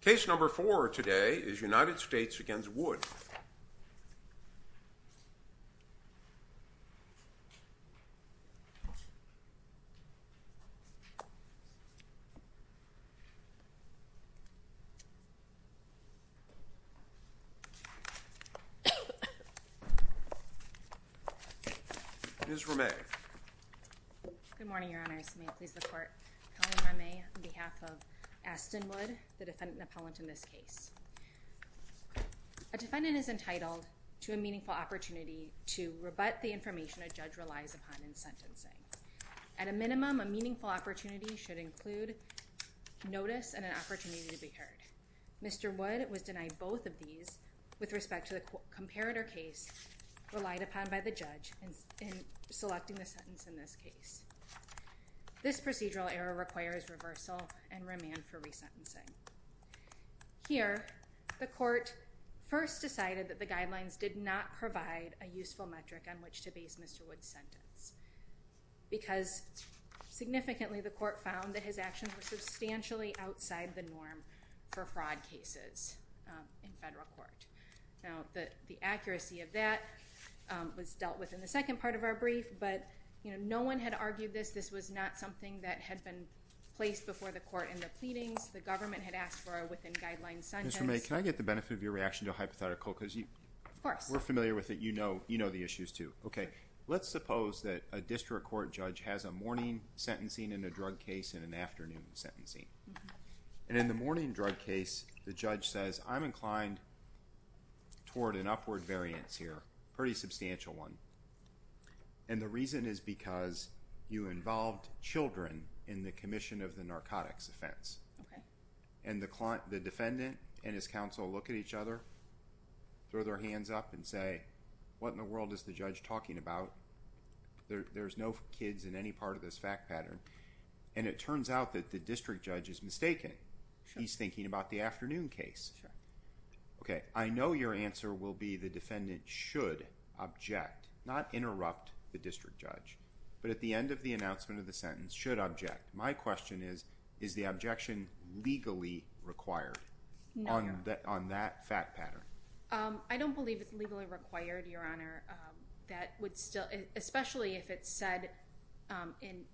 Case number four today is United States v. Wood. Good morning, Your Honors. May it please the Court. Colleen Remy on behalf of Aston Wood, the defendant appellant in this case. A defendant is entitled to a meaningful opportunity to rebut the information a judge relies upon in sentencing. At a minimum, a meaningful opportunity should include notice and an opportunity to be heard. Mr. Wood was denied both of these with respect to the comparator case relied upon by the judge in selecting the sentence in this case. This procedural error requires reversal and remand for resentencing. Here, the Court first decided that the guidelines did not provide a useful metric on which to base Mr. Wood's sentence. Because significantly, the Court found that his actions were substantially outside the norm for fraud cases in federal court. Now, the accuracy of that was dealt with in the second part of our brief, but no one had argued this. This was not something that had been placed before the Court in the pleadings. The government had asked for a within-guidelines sentence. Mr. May, can I get the benefit of your reaction to a hypothetical? Of course. We're familiar with it. You know the issues, too. Let's suppose that a district court judge has a morning sentencing in a drug case and an afternoon sentencing. In the morning drug case, the judge says, I'm inclined toward an upward variance here, a pretty substantial one. The reason is because you involved children in the commission of the narcotics offense. The defendant and his counsel look at each other, throw their hands up, and say, what in the world is the judge talking about? There's no kids in any part of this fact pattern. It turns out that the district judge is mistaken. He's thinking about the afternoon case. I know your answer will be the defendant should object, not interrupt the district judge. But at the end of the announcement of the sentence, should object. My question is, is the objection legally required on that fact pattern? I don't believe it's legally required, Your Honor. Especially if it's said in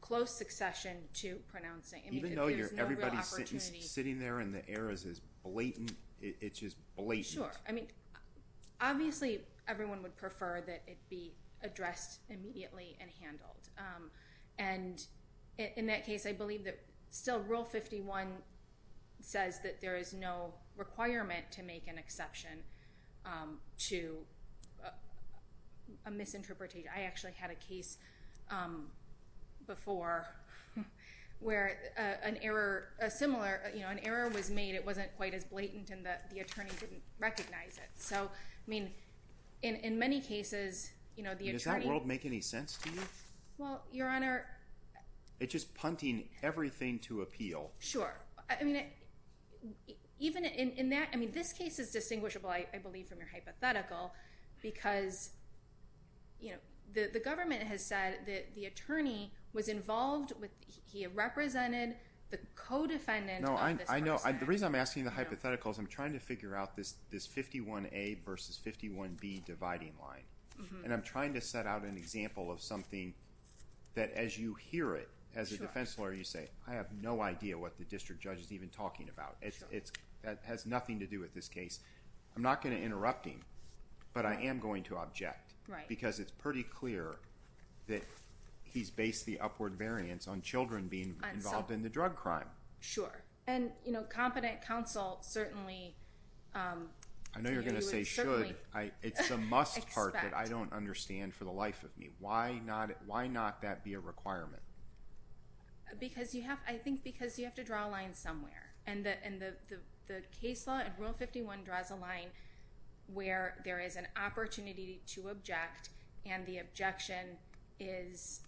close succession to pronouncing. Even though everybody's sitting there and the air is just blatant. Sure. Obviously, everyone would prefer that it be addressed immediately and handled. In that case, I believe that still Rule 51 says that there is no requirement to make an exception to a misinterpretation. I actually had a case before where an error was made. It wasn't quite as blatant, and the attorney didn't recognize it. In many cases, the attorney- Does that rule make any sense to you? Well, Your Honor- It's just punting everything to appeal. Sure. This case is distinguishable, I believe, from your hypothetical because the government has said that the attorney was involved. He represented the co-defendant of this person. The reason I'm asking the hypothetical is I'm trying to figure out this 51A versus 51B dividing line. I'm trying to set out an example of something that as you hear it, as a defense lawyer, you say, I have no idea what the district judge is even talking about. It has nothing to do with this case. I'm not going to interrupt him, but I am going to object because it's pretty clear that he's based the upward variance on children being involved in the drug crime. Sure. Competent counsel certainly- I know you're going to say should. It's a must part that I don't understand for the life of me. Why not that be a requirement? I think because you have to draw a line somewhere. The case law in Rule 51 draws a line where there is an opportunity to object, and the objection is-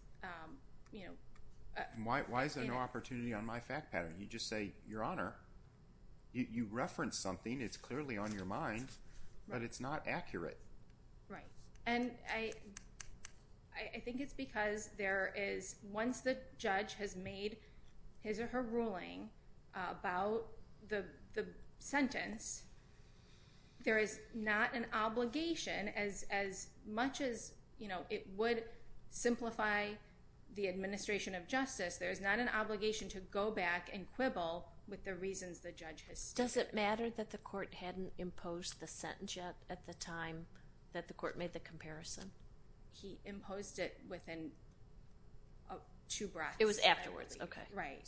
Why is there no opportunity on my fact pattern? You just say, Your Honor, you referenced something. It's clearly on your mind, but it's not accurate. Right. I think it's because once the judge has made his or her ruling about the sentence, there is not an obligation as much as it would simplify the administration of justice, there is not an obligation to go back and quibble with the reasons the judge has stated. Does it matter that the court hadn't imposed the sentence yet at the time that the court made the comparison? He imposed it within two breaths. It was afterwards. Right.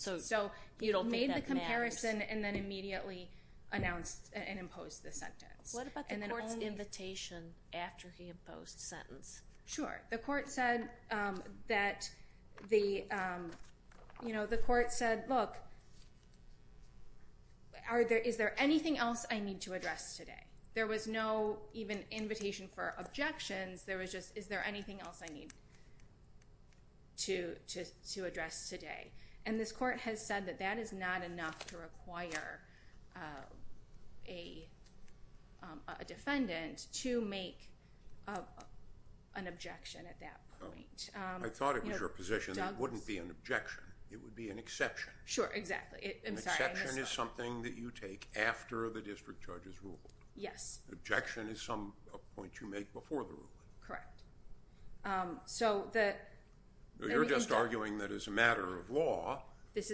You don't think that matters? He made the comparison and then immediately announced and imposed the sentence. What about the court's invitation after he imposed the sentence? Sure. The court said, Look, is there anything else I need to address today? There was no even invitation for objections. There was just, Is there anything else I need to address today? And this court has said that that is not enough to require a defendant to make an objection at that point. I thought it was your position that it wouldn't be an objection. It would be an exception. Sure, exactly. An exception is something that you take after the district judge has ruled. Yes. Objection is some point you make before the ruling. Correct. You're just arguing that as a matter of law,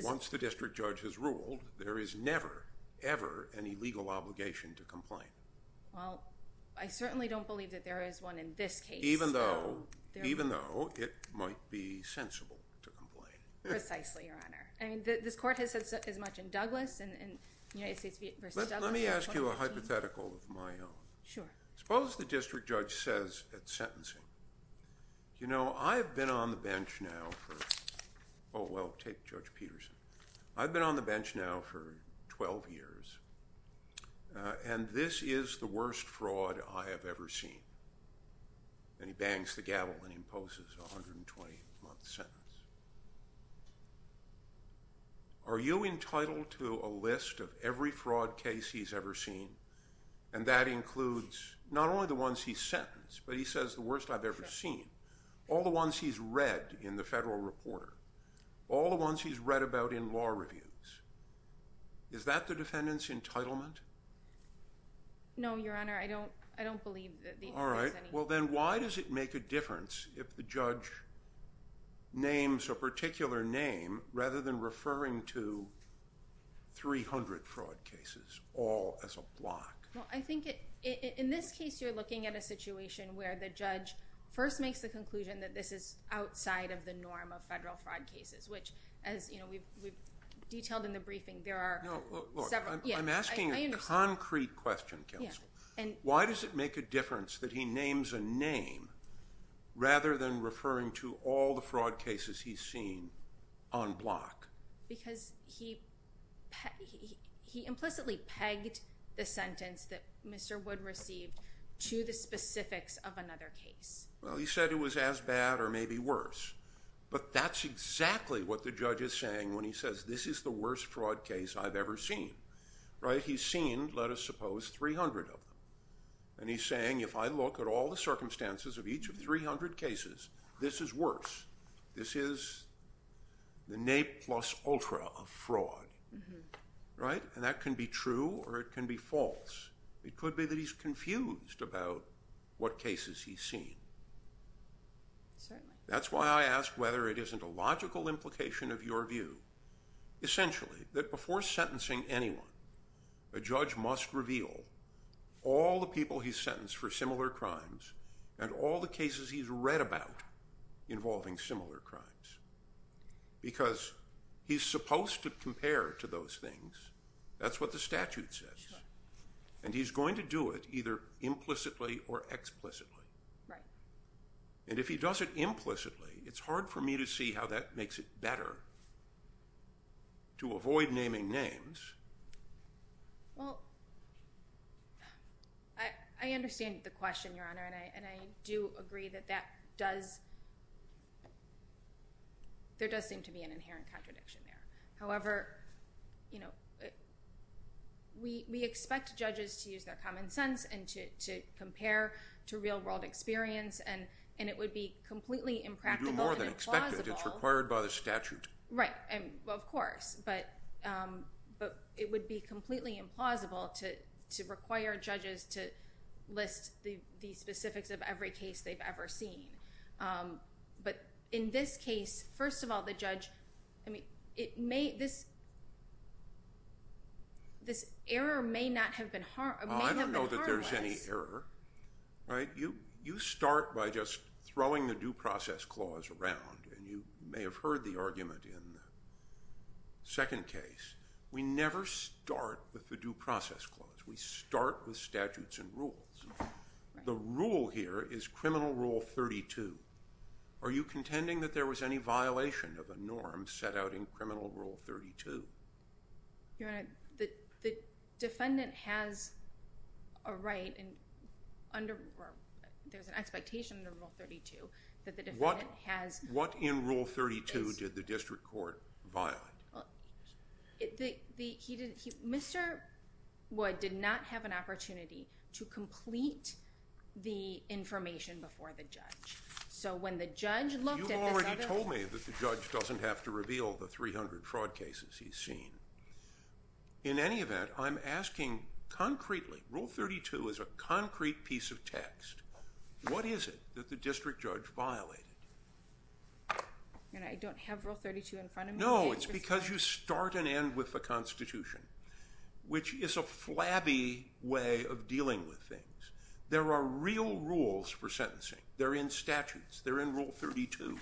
once the district judge has ruled, there is never, ever an illegal obligation to complain. Well, I certainly don't believe that there is one in this case. Even though it might be sensible to complain. Precisely, Your Honor. This court has said as much in Douglas and United States v. Douglas. Let me ask you a hypothetical of my own. Sure. Suppose the district judge says at sentencing, You know, I've been on the bench now for, oh, well, take Judge Peterson. I've been on the bench now for 12 years, and this is the worst fraud I have ever seen. And he bangs the gavel and imposes a 120-month sentence. Are you entitled to a list of every fraud case he's ever seen? And that includes not only the ones he's sentenced, but he says the worst I've ever seen. Sure. All the ones he's read in the Federal Reporter. All the ones he's read about in law reviews. Is that the defendant's entitlement? No, Your Honor. I don't believe that the defendant has any. Well, then why does it make a difference if the judge names a particular name rather than referring to 300 fraud cases all as a block? Well, I think in this case you're looking at a situation where the judge first makes the conclusion that this is outside of the norm of federal fraud cases, which, as we've detailed in the briefing, there are several. I'm asking a concrete question, counsel. Why does it make a difference that he names a name rather than referring to all the fraud cases he's seen on block? Because he implicitly pegged the sentence that Mr. Wood received to the specifics of another case. Well, he said it was as bad or maybe worse. But that's exactly what the judge is saying when he says this is the worst fraud case I've ever seen. Right? He's seen, let us suppose, 300 of them. And he's saying if I look at all the circumstances of each of the 300 cases, this is worse. This is the nay plus ultra of fraud. Right? And that can be true or it can be false. It could be that he's confused about what cases he's seen. Certainly. That's why I ask whether it isn't a logical implication of your view. Essentially, that before sentencing anyone, a judge must reveal all the people he's sentenced for similar crimes and all the cases he's read about involving similar crimes. Because he's supposed to compare to those things. That's what the statute says. And he's going to do it either implicitly or explicitly. Right. And if he does it implicitly, it's hard for me to see how that makes it better to avoid naming names. Well, I understand the question, Your Honor, and I do agree that there does seem to be an inherent contradiction there. However, you know, we expect judges to use their common sense and to compare to real-world experience. And it would be completely impractical and implausible. You do more than expect it. It's required by the statute. Right. Well, of course. But it would be completely implausible to require judges to list the specifics of every case they've ever seen. But in this case, first of all, the judge, I mean, this error may not have been harmless. I don't know that there's any error. Right? You start by just throwing the due process clause around, and you may have heard the argument in the second case. We never start with the due process clause. We start with statutes and rules. The rule here is Criminal Rule 32. Are you contending that there was any violation of a norm set out in Criminal Rule 32? Your Honor, the defendant has a right, or there's an expectation under Rule 32 that the defendant has a right. What in Rule 32 did the district court violate? Mr. Wood did not have an opportunity to complete the information before the judge. You've already told me that the judge doesn't have to reveal the 300 fraud cases he's seen. In any event, I'm asking concretely. Rule 32 is a concrete piece of text. What is it that the district judge violated? Your Honor, I don't have Rule 32 in front of me. No, it's because you start and end with the Constitution, which is a flabby way of dealing with things. There are real rules for sentencing. They're in statutes. They're in Rule 32.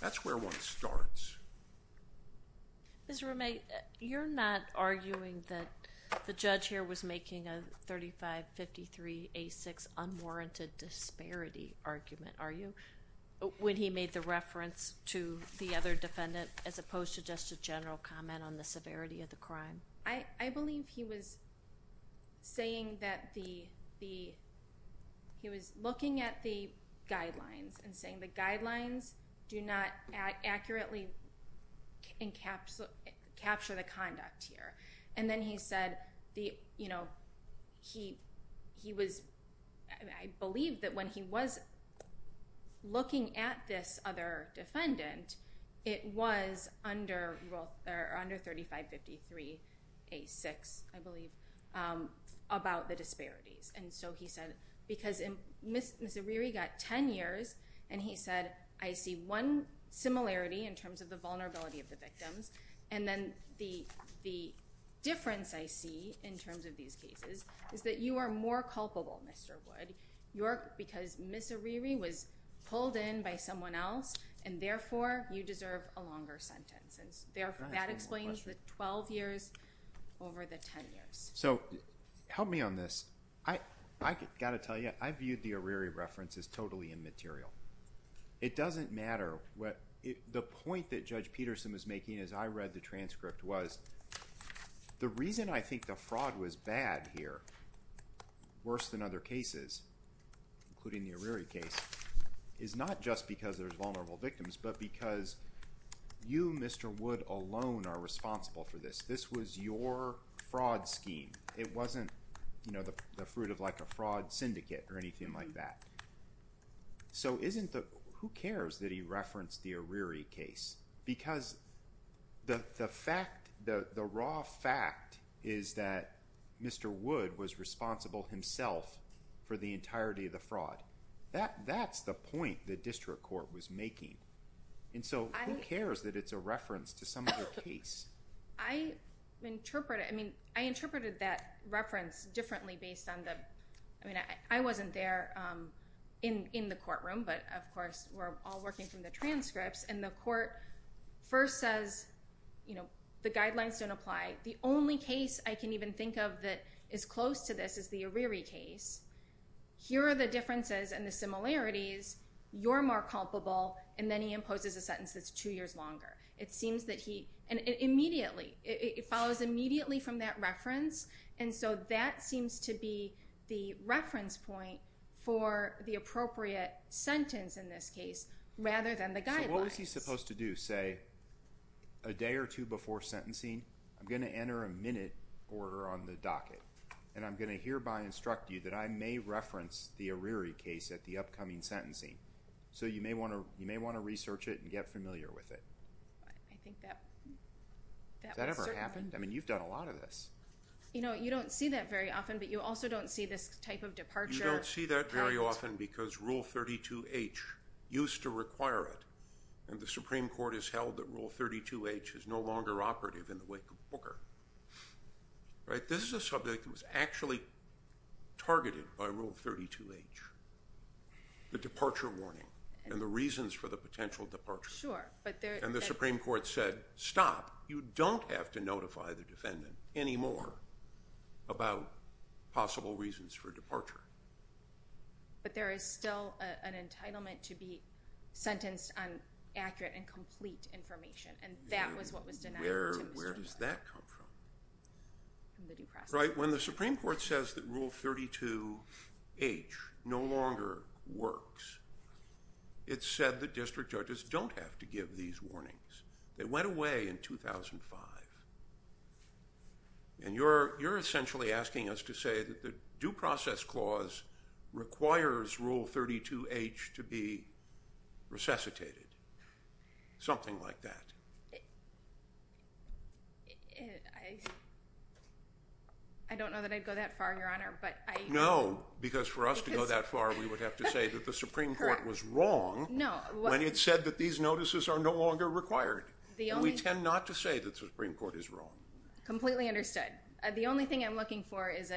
That's where one starts. Ms. Rumey, you're not arguing that the judge here was making a 3553A6 unwarranted disparity argument, are you, when he made the reference to the other defendant as opposed to just a general comment on the severity of the crime? I believe he was looking at the guidelines and saying the guidelines do not accurately capture the conduct here. I believe that when he was looking at this other defendant, it was under 3553A6, I believe, about the disparities. Because Ms. Ariri got 10 years, and he said, I see one similarity in terms of the vulnerability of the victims, and then the difference I see in terms of these cases is that you are more culpable, Mr. Wood, because Ms. Ariri was pulled in by someone else, and therefore, you deserve a longer sentence. That explains the 12 years over the 10 years. So help me on this. I've got to tell you, I viewed the Ariri reference as totally immaterial. It doesn't matter. The point that Judge Peterson was making as I read the transcript was the reason I think the fraud was bad here, worse than other cases, including the Ariri case, is not just because there's vulnerable victims, but because you, Mr. Wood, alone are responsible for this. This was your fraud scheme. It wasn't the fruit of a fraud syndicate or anything like that. So who cares that he referenced the Ariri case? Because the raw fact is that Mr. Wood was responsible himself for the entirety of the fraud. That's the point the district court was making. And so who cares that it's a reference to some other case? I interpret it. I mean, I interpreted that reference differently based on the ‑‑ I mean, I wasn't there in the courtroom, but, of course, we're all working from the transcripts. And the court first says, you know, the guidelines don't apply. The only case I can even think of that is close to this is the Ariri case. Here are the differences and the similarities. You're more culpable. And then he imposes a sentence that's two years longer. It seems that he ‑‑ and immediately, it follows immediately from that reference, and so that seems to be the reference point for the appropriate sentence in this case rather than the guidelines. So what was he supposed to do, say, a day or two before sentencing? I'm going to enter a minute order on the docket, and I'm going to hereby instruct you that I may reference the Ariri case at the upcoming sentencing. So you may want to research it and get familiar with it. Has that ever happened? I mean, you've done a lot of this. You know, you don't see that very often, but you also don't see this type of departure. You don't see that very often because Rule 32H used to require it, and the Supreme Court has held that Rule 32H is no longer operative in the wake of Booker. This is a subject that was actually targeted by Rule 32H. The departure warning and the reasons for the potential departure. Sure. And the Supreme Court said, stop. You don't have to notify the defendant anymore about possible reasons for departure. But there is still an entitlement to be sentenced on accurate and complete information, and that was what was denied. Where does that come from? From the due process. Right. When the Supreme Court says that Rule 32H no longer works, it said that district judges don't have to give these warnings. They went away in 2005. And you're essentially asking us to say that the due process clause requires Rule 32H to be resuscitated. Something like that. I don't know that I'd go that far, Your Honor. No, because for us to go that far, we would have to say that the Supreme Court was wrong when it said that these notices are no longer required. We tend not to say that the Supreme Court is wrong. Completely understood. The only thing I'm looking for is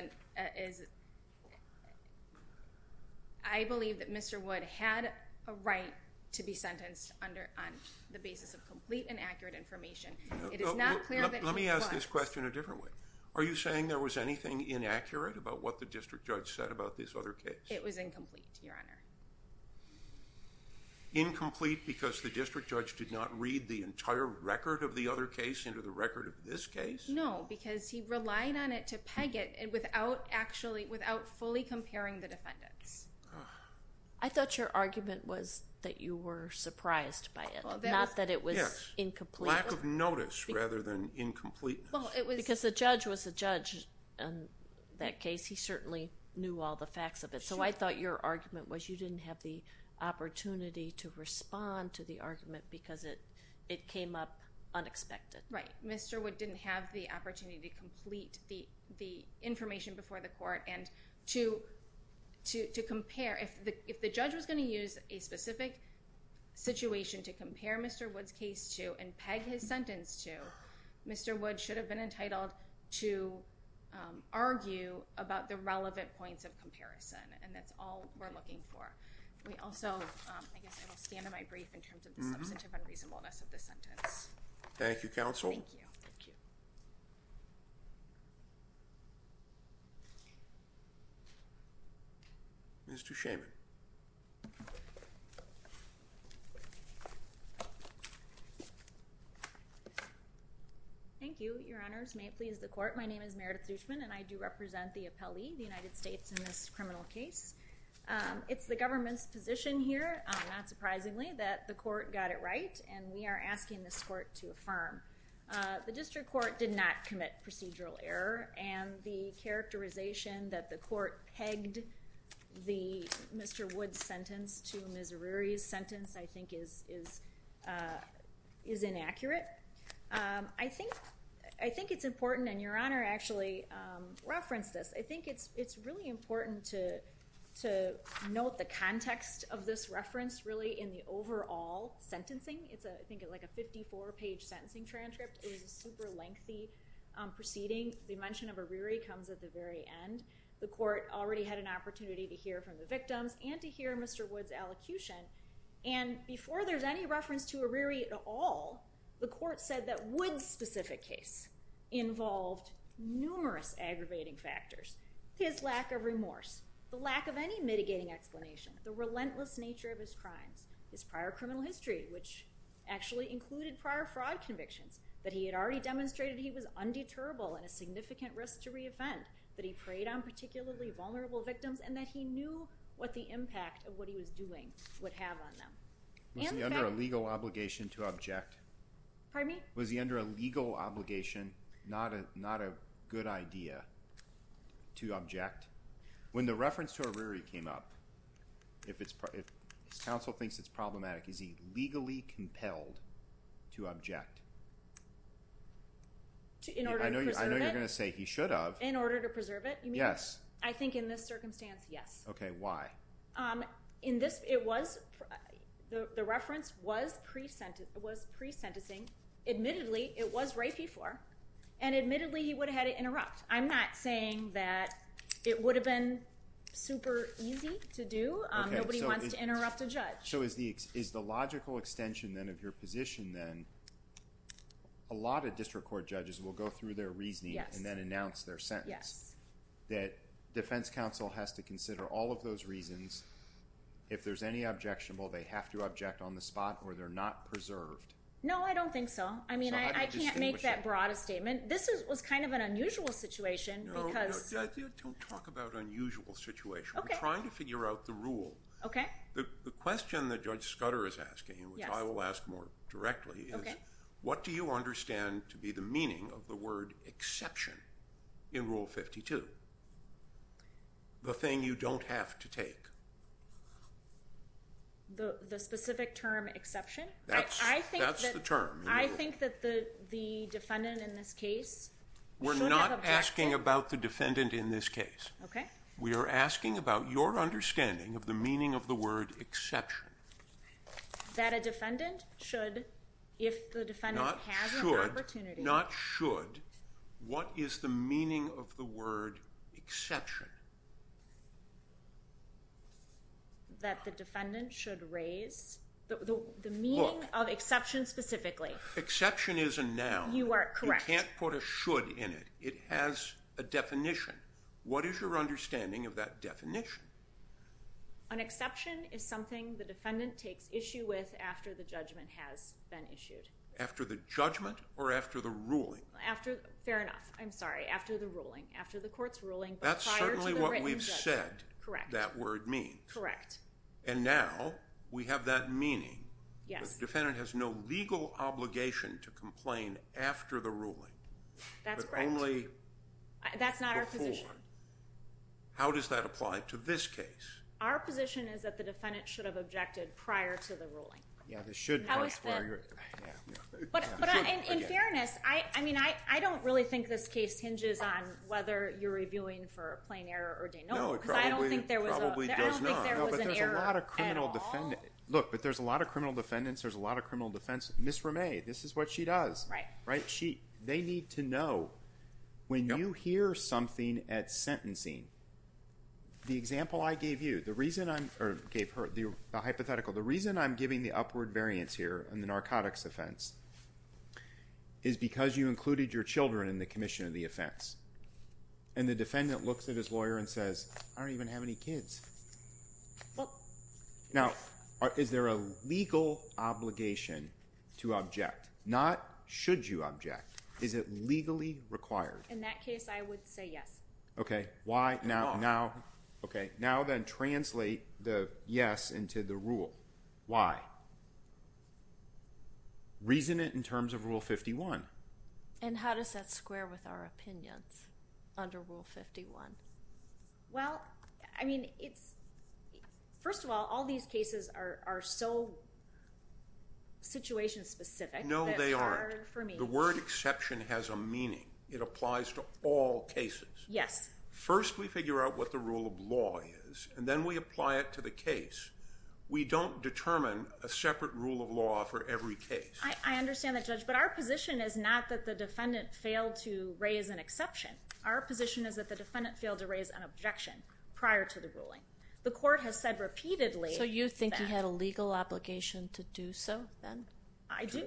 I believe that Mr. Wood had a right to be sentenced on the basis of complete and accurate information. It is not clear that he was. Let me ask this question a different way. Are you saying there was anything inaccurate about what the district judge said about this other case? It was incomplete, Your Honor. Incomplete because the district judge did not read the entire record of the other case into the record of this case? No, because he relied on it to peg it without fully comparing the defendants. I thought your argument was that you were surprised by it, not that it was incomplete. Lack of notice rather than incompleteness. Because the judge was the judge in that case. He certainly knew all the facts of it. So I thought your argument was you didn't have the opportunity to respond to the argument because it came up unexpected. Right. Mr. Wood didn't have the opportunity to complete the information before the court and to compare. If the judge was going to use a specific situation to compare Mr. Wood's case to and peg his sentence to, Mr. Wood should have been entitled to argue about the relevant points of comparison. And that's all we're looking for. We also, I guess I will stand on my brief in terms of the substantive unreasonableness of the sentence. Thank you, counsel. Thank you. Mr. Shaman. Thank you, your honors. May it please the court. My name is Meredith Shaman and I do represent the appellee, the United States, in this criminal case. It's the government's position here, not surprisingly, that the court got it right and we are asking this court to affirm. The district court did not commit procedural error and the characterization that the court pegged Mr. Wood's sentence to Ms. Aruri's sentence I think is inaccurate. I think it's important, and your honor actually referenced this, I think it's really important to note the context of this reference really in the overall sentencing. It's, I think, like a 54-page sentencing transcript. It was a super lengthy proceeding. The mention of Aruri comes at the very end. The court already had an opportunity to hear from the victims and to hear Mr. Wood's elocution and before there's any reference to Aruri at all, the court said that Wood's specific case involved numerous aggravating factors. His lack of remorse, the lack of any mitigating explanation, the relentless nature of his crimes, his prior criminal history, which actually included prior fraud convictions, that he had already demonstrated he was undeterrable and a significant risk to re-offend, that he preyed on particularly vulnerable victims, and that he knew what the impact of what he was doing would have on them. Was he under a legal obligation to object? Pardon me? Was he under a legal obligation, not a good idea, to object? When the reference to Aruri came up, if his counsel thinks it's problematic, is he legally compelled to object? In order to preserve it? I know you're going to say he should have. In order to preserve it? Yes. I think in this circumstance, yes. Okay, why? The reference was pre-sentencing. Admittedly, it was right before, and admittedly, he would have had to interrupt. I'm not saying that it would have been super easy to do. Nobody wants to interrupt a judge. So is the logical extension, then, of your position, then, a lot of district court judges will go through their reasoning and then announce their sentence, that defense counsel has to consider all of those reasons. If there's any objectionable, they have to object on the spot, or they're not preserved. No, I don't think so. I mean, I can't make that broad a statement. This was kind of an unusual situation. Don't talk about unusual situation. We're trying to figure out the rule. Okay. The question that Judge Scudder is asking, which I will ask more directly, is what do you understand to be the meaning of the word exception in Rule 52? The thing you don't have to take. The specific term exception? That's the term. I think that the defendant in this case should have objection. We're not asking about the defendant in this case. Okay. We are asking about your understanding of the meaning of the word exception. That a defendant should, if the defendant has an opportunity. Not should, not should. What is the meaning of the word exception? That the defendant should raise. The meaning of exception specifically. Exception is a noun. You are correct. You can't put a should in it. It has a definition. What is your understanding of that definition? An exception is something the defendant takes issue with after the judgment has been issued. After the judgment or after the ruling? Fair enough. I'm sorry. After the ruling. After the court's ruling but prior to the written judgment. That's certainly what we've said that word means. Correct. And now we have that meaning. Yes. The defendant has no legal obligation to complain after the ruling. That's correct. But only before. That's not our position. How does that apply to this case? Our position is that the defendant should have objected prior to the ruling. Yeah, the should. But in fairness, I mean, I don't really think this case hinges on whether you're reviewing for a plain error or de novo. No, it probably does not. I don't think there was an error at all. Look, but there's a lot of criminal defendants. There's a lot of criminal defense. Ms. Ramey, this is what she does. Right. They need to know when you hear something at sentencing. The example I gave you, the reason I gave her the hypothetical. The reason I'm giving the upward variance here in the narcotics offense is because you included your children in the commission of the offense. And the defendant looks at his lawyer and says, I don't even have any kids. Well. Now, is there a legal obligation to object? Not should you object? Is it legally required? In that case, I would say yes. Okay. Why now? Okay. Now then translate the yes into the rule. Why? Reason it in terms of Rule 51. And how does that square with our opinions under Rule 51? Well, I mean, first of all, all these cases are so situation specific. No, they aren't. That it's hard for me. The word exception has a meaning. It applies to all cases. Yes. First, we figure out what the rule of law is. And then we apply it to the case. We don't determine a separate rule of law for every case. I understand that, Judge. But our position is not that the defendant failed to raise an exception. Our position is that the defendant failed to raise an objection prior to the ruling. The court has said repeatedly that. So, you think he had a legal obligation to do so, then? I do.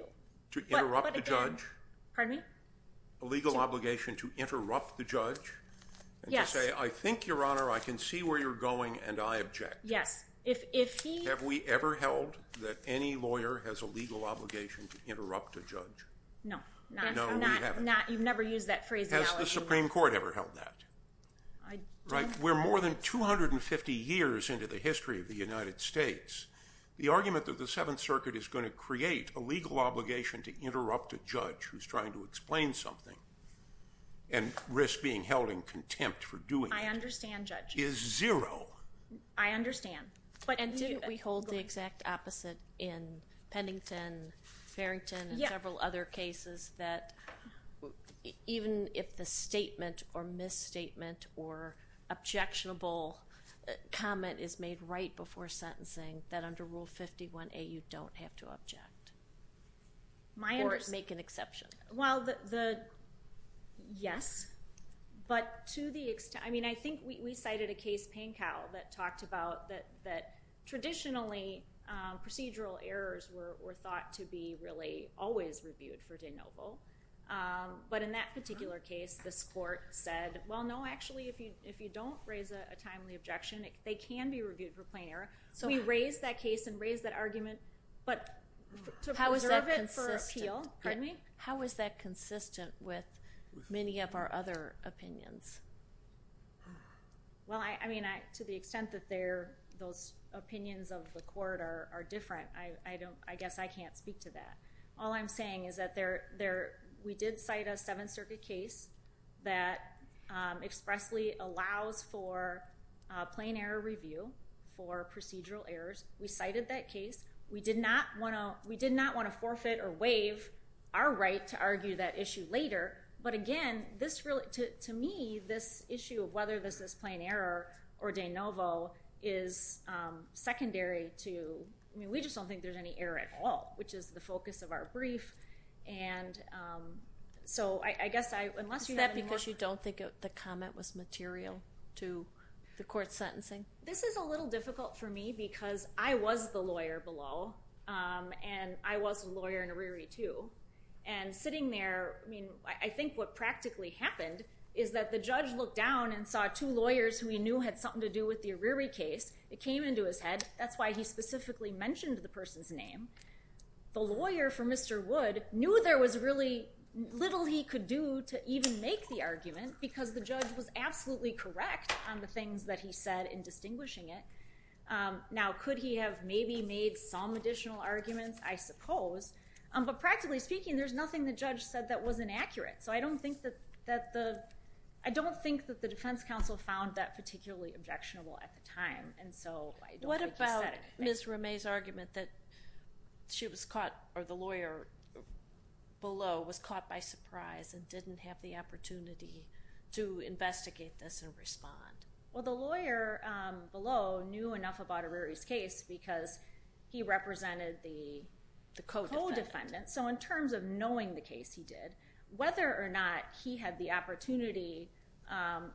To interrupt the judge? Pardon me? A legal obligation to interrupt the judge? Yes. And to say, I think, Your Honor, I can see where you're going, and I object. Yes. Have we ever held that any lawyer has a legal obligation to interrupt a judge? No. No, we haven't. You've never used that phrase. Has the Supreme Court ever held that? I don't. We're more than 250 years into the history of the United States. The argument that the Seventh Circuit is going to create a legal obligation to interrupt a judge who's trying to explain something and risk being held in contempt for doing it is zero. I understand, Judge. I understand. And didn't we hold the exact opposite in Pennington, Farrington, and several other cases that even if the statement or misstatement or objectionable comment is made right before sentencing, that under Rule 51A you don't have to object or make an exception? Well, yes. But to the extent, I mean, I think we cited a case, Pankow, that talked about that traditionally procedural errors were thought to be really always reviewed for de novo. But in that particular case, this court said, well, no, actually, if you don't raise a timely objection, they can be reviewed for plain error. So we raised that case and raised that argument. But to preserve it for appeal, how is that consistent with many of our other opinions? Well, I mean, to the extent that those opinions of the court are different, I guess I can't speak to that. All I'm saying is that we did cite a Seventh Circuit case that expressly allows for plain error review for procedural errors. We cited that case. We did not want to forfeit or waive our right to argue that issue later. But again, to me, this issue of whether this is plain error or de novo is secondary to, I mean, we just don't think there's any error at all, which is the focus of our brief. Is that because you don't think the comment was material to the court's sentencing? This is a little difficult for me because I was the lawyer below, and I was a lawyer in Arirri too. And sitting there, I mean, I think what practically happened is that the judge looked down and saw two lawyers who he knew had something to do with the Arirri case. It came into his head. That's why he specifically mentioned the person's name. The lawyer for Mr. Wood knew there was really little he could do to even make the argument because the judge was absolutely correct on the things that he said in distinguishing it. Now, could he have maybe made some additional arguments? I suppose. But practically speaking, there's nothing the judge said that was inaccurate. So I don't think that the defense counsel found that particularly objectionable at the time. And so I don't think he said anything. What about Ms. Ramee's argument that she was caught or the lawyer below was caught by surprise and didn't have the opportunity to investigate this and respond? Well, the lawyer below knew enough about Arirri's case because he represented the co-defendant. So in terms of knowing the case he did, whether or not he had the opportunity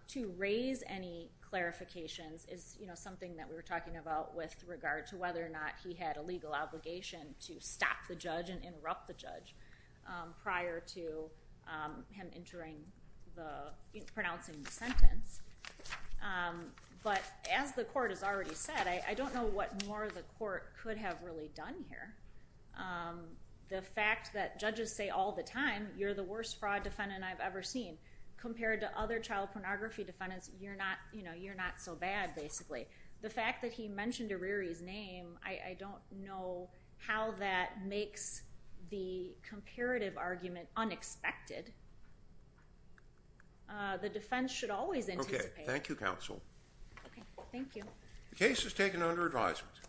to raise any clarifications is something that we were talking about with regard to whether or not he had a legal obligation to stop the judge and interrupt the judge prior to him pronouncing the sentence. But as the court has already said, I don't know what more the court could have really done here. The fact that judges say all the time, you're the worst fraud defendant I've ever seen, compared to other child pornography defendants, you're not so bad, basically. The fact that he mentioned Arirri's name, I don't know how that makes the comparative argument unexpected. The defense should always anticipate. Okay. Thank you, counsel. Okay. Thank you. The case is taken under advisement.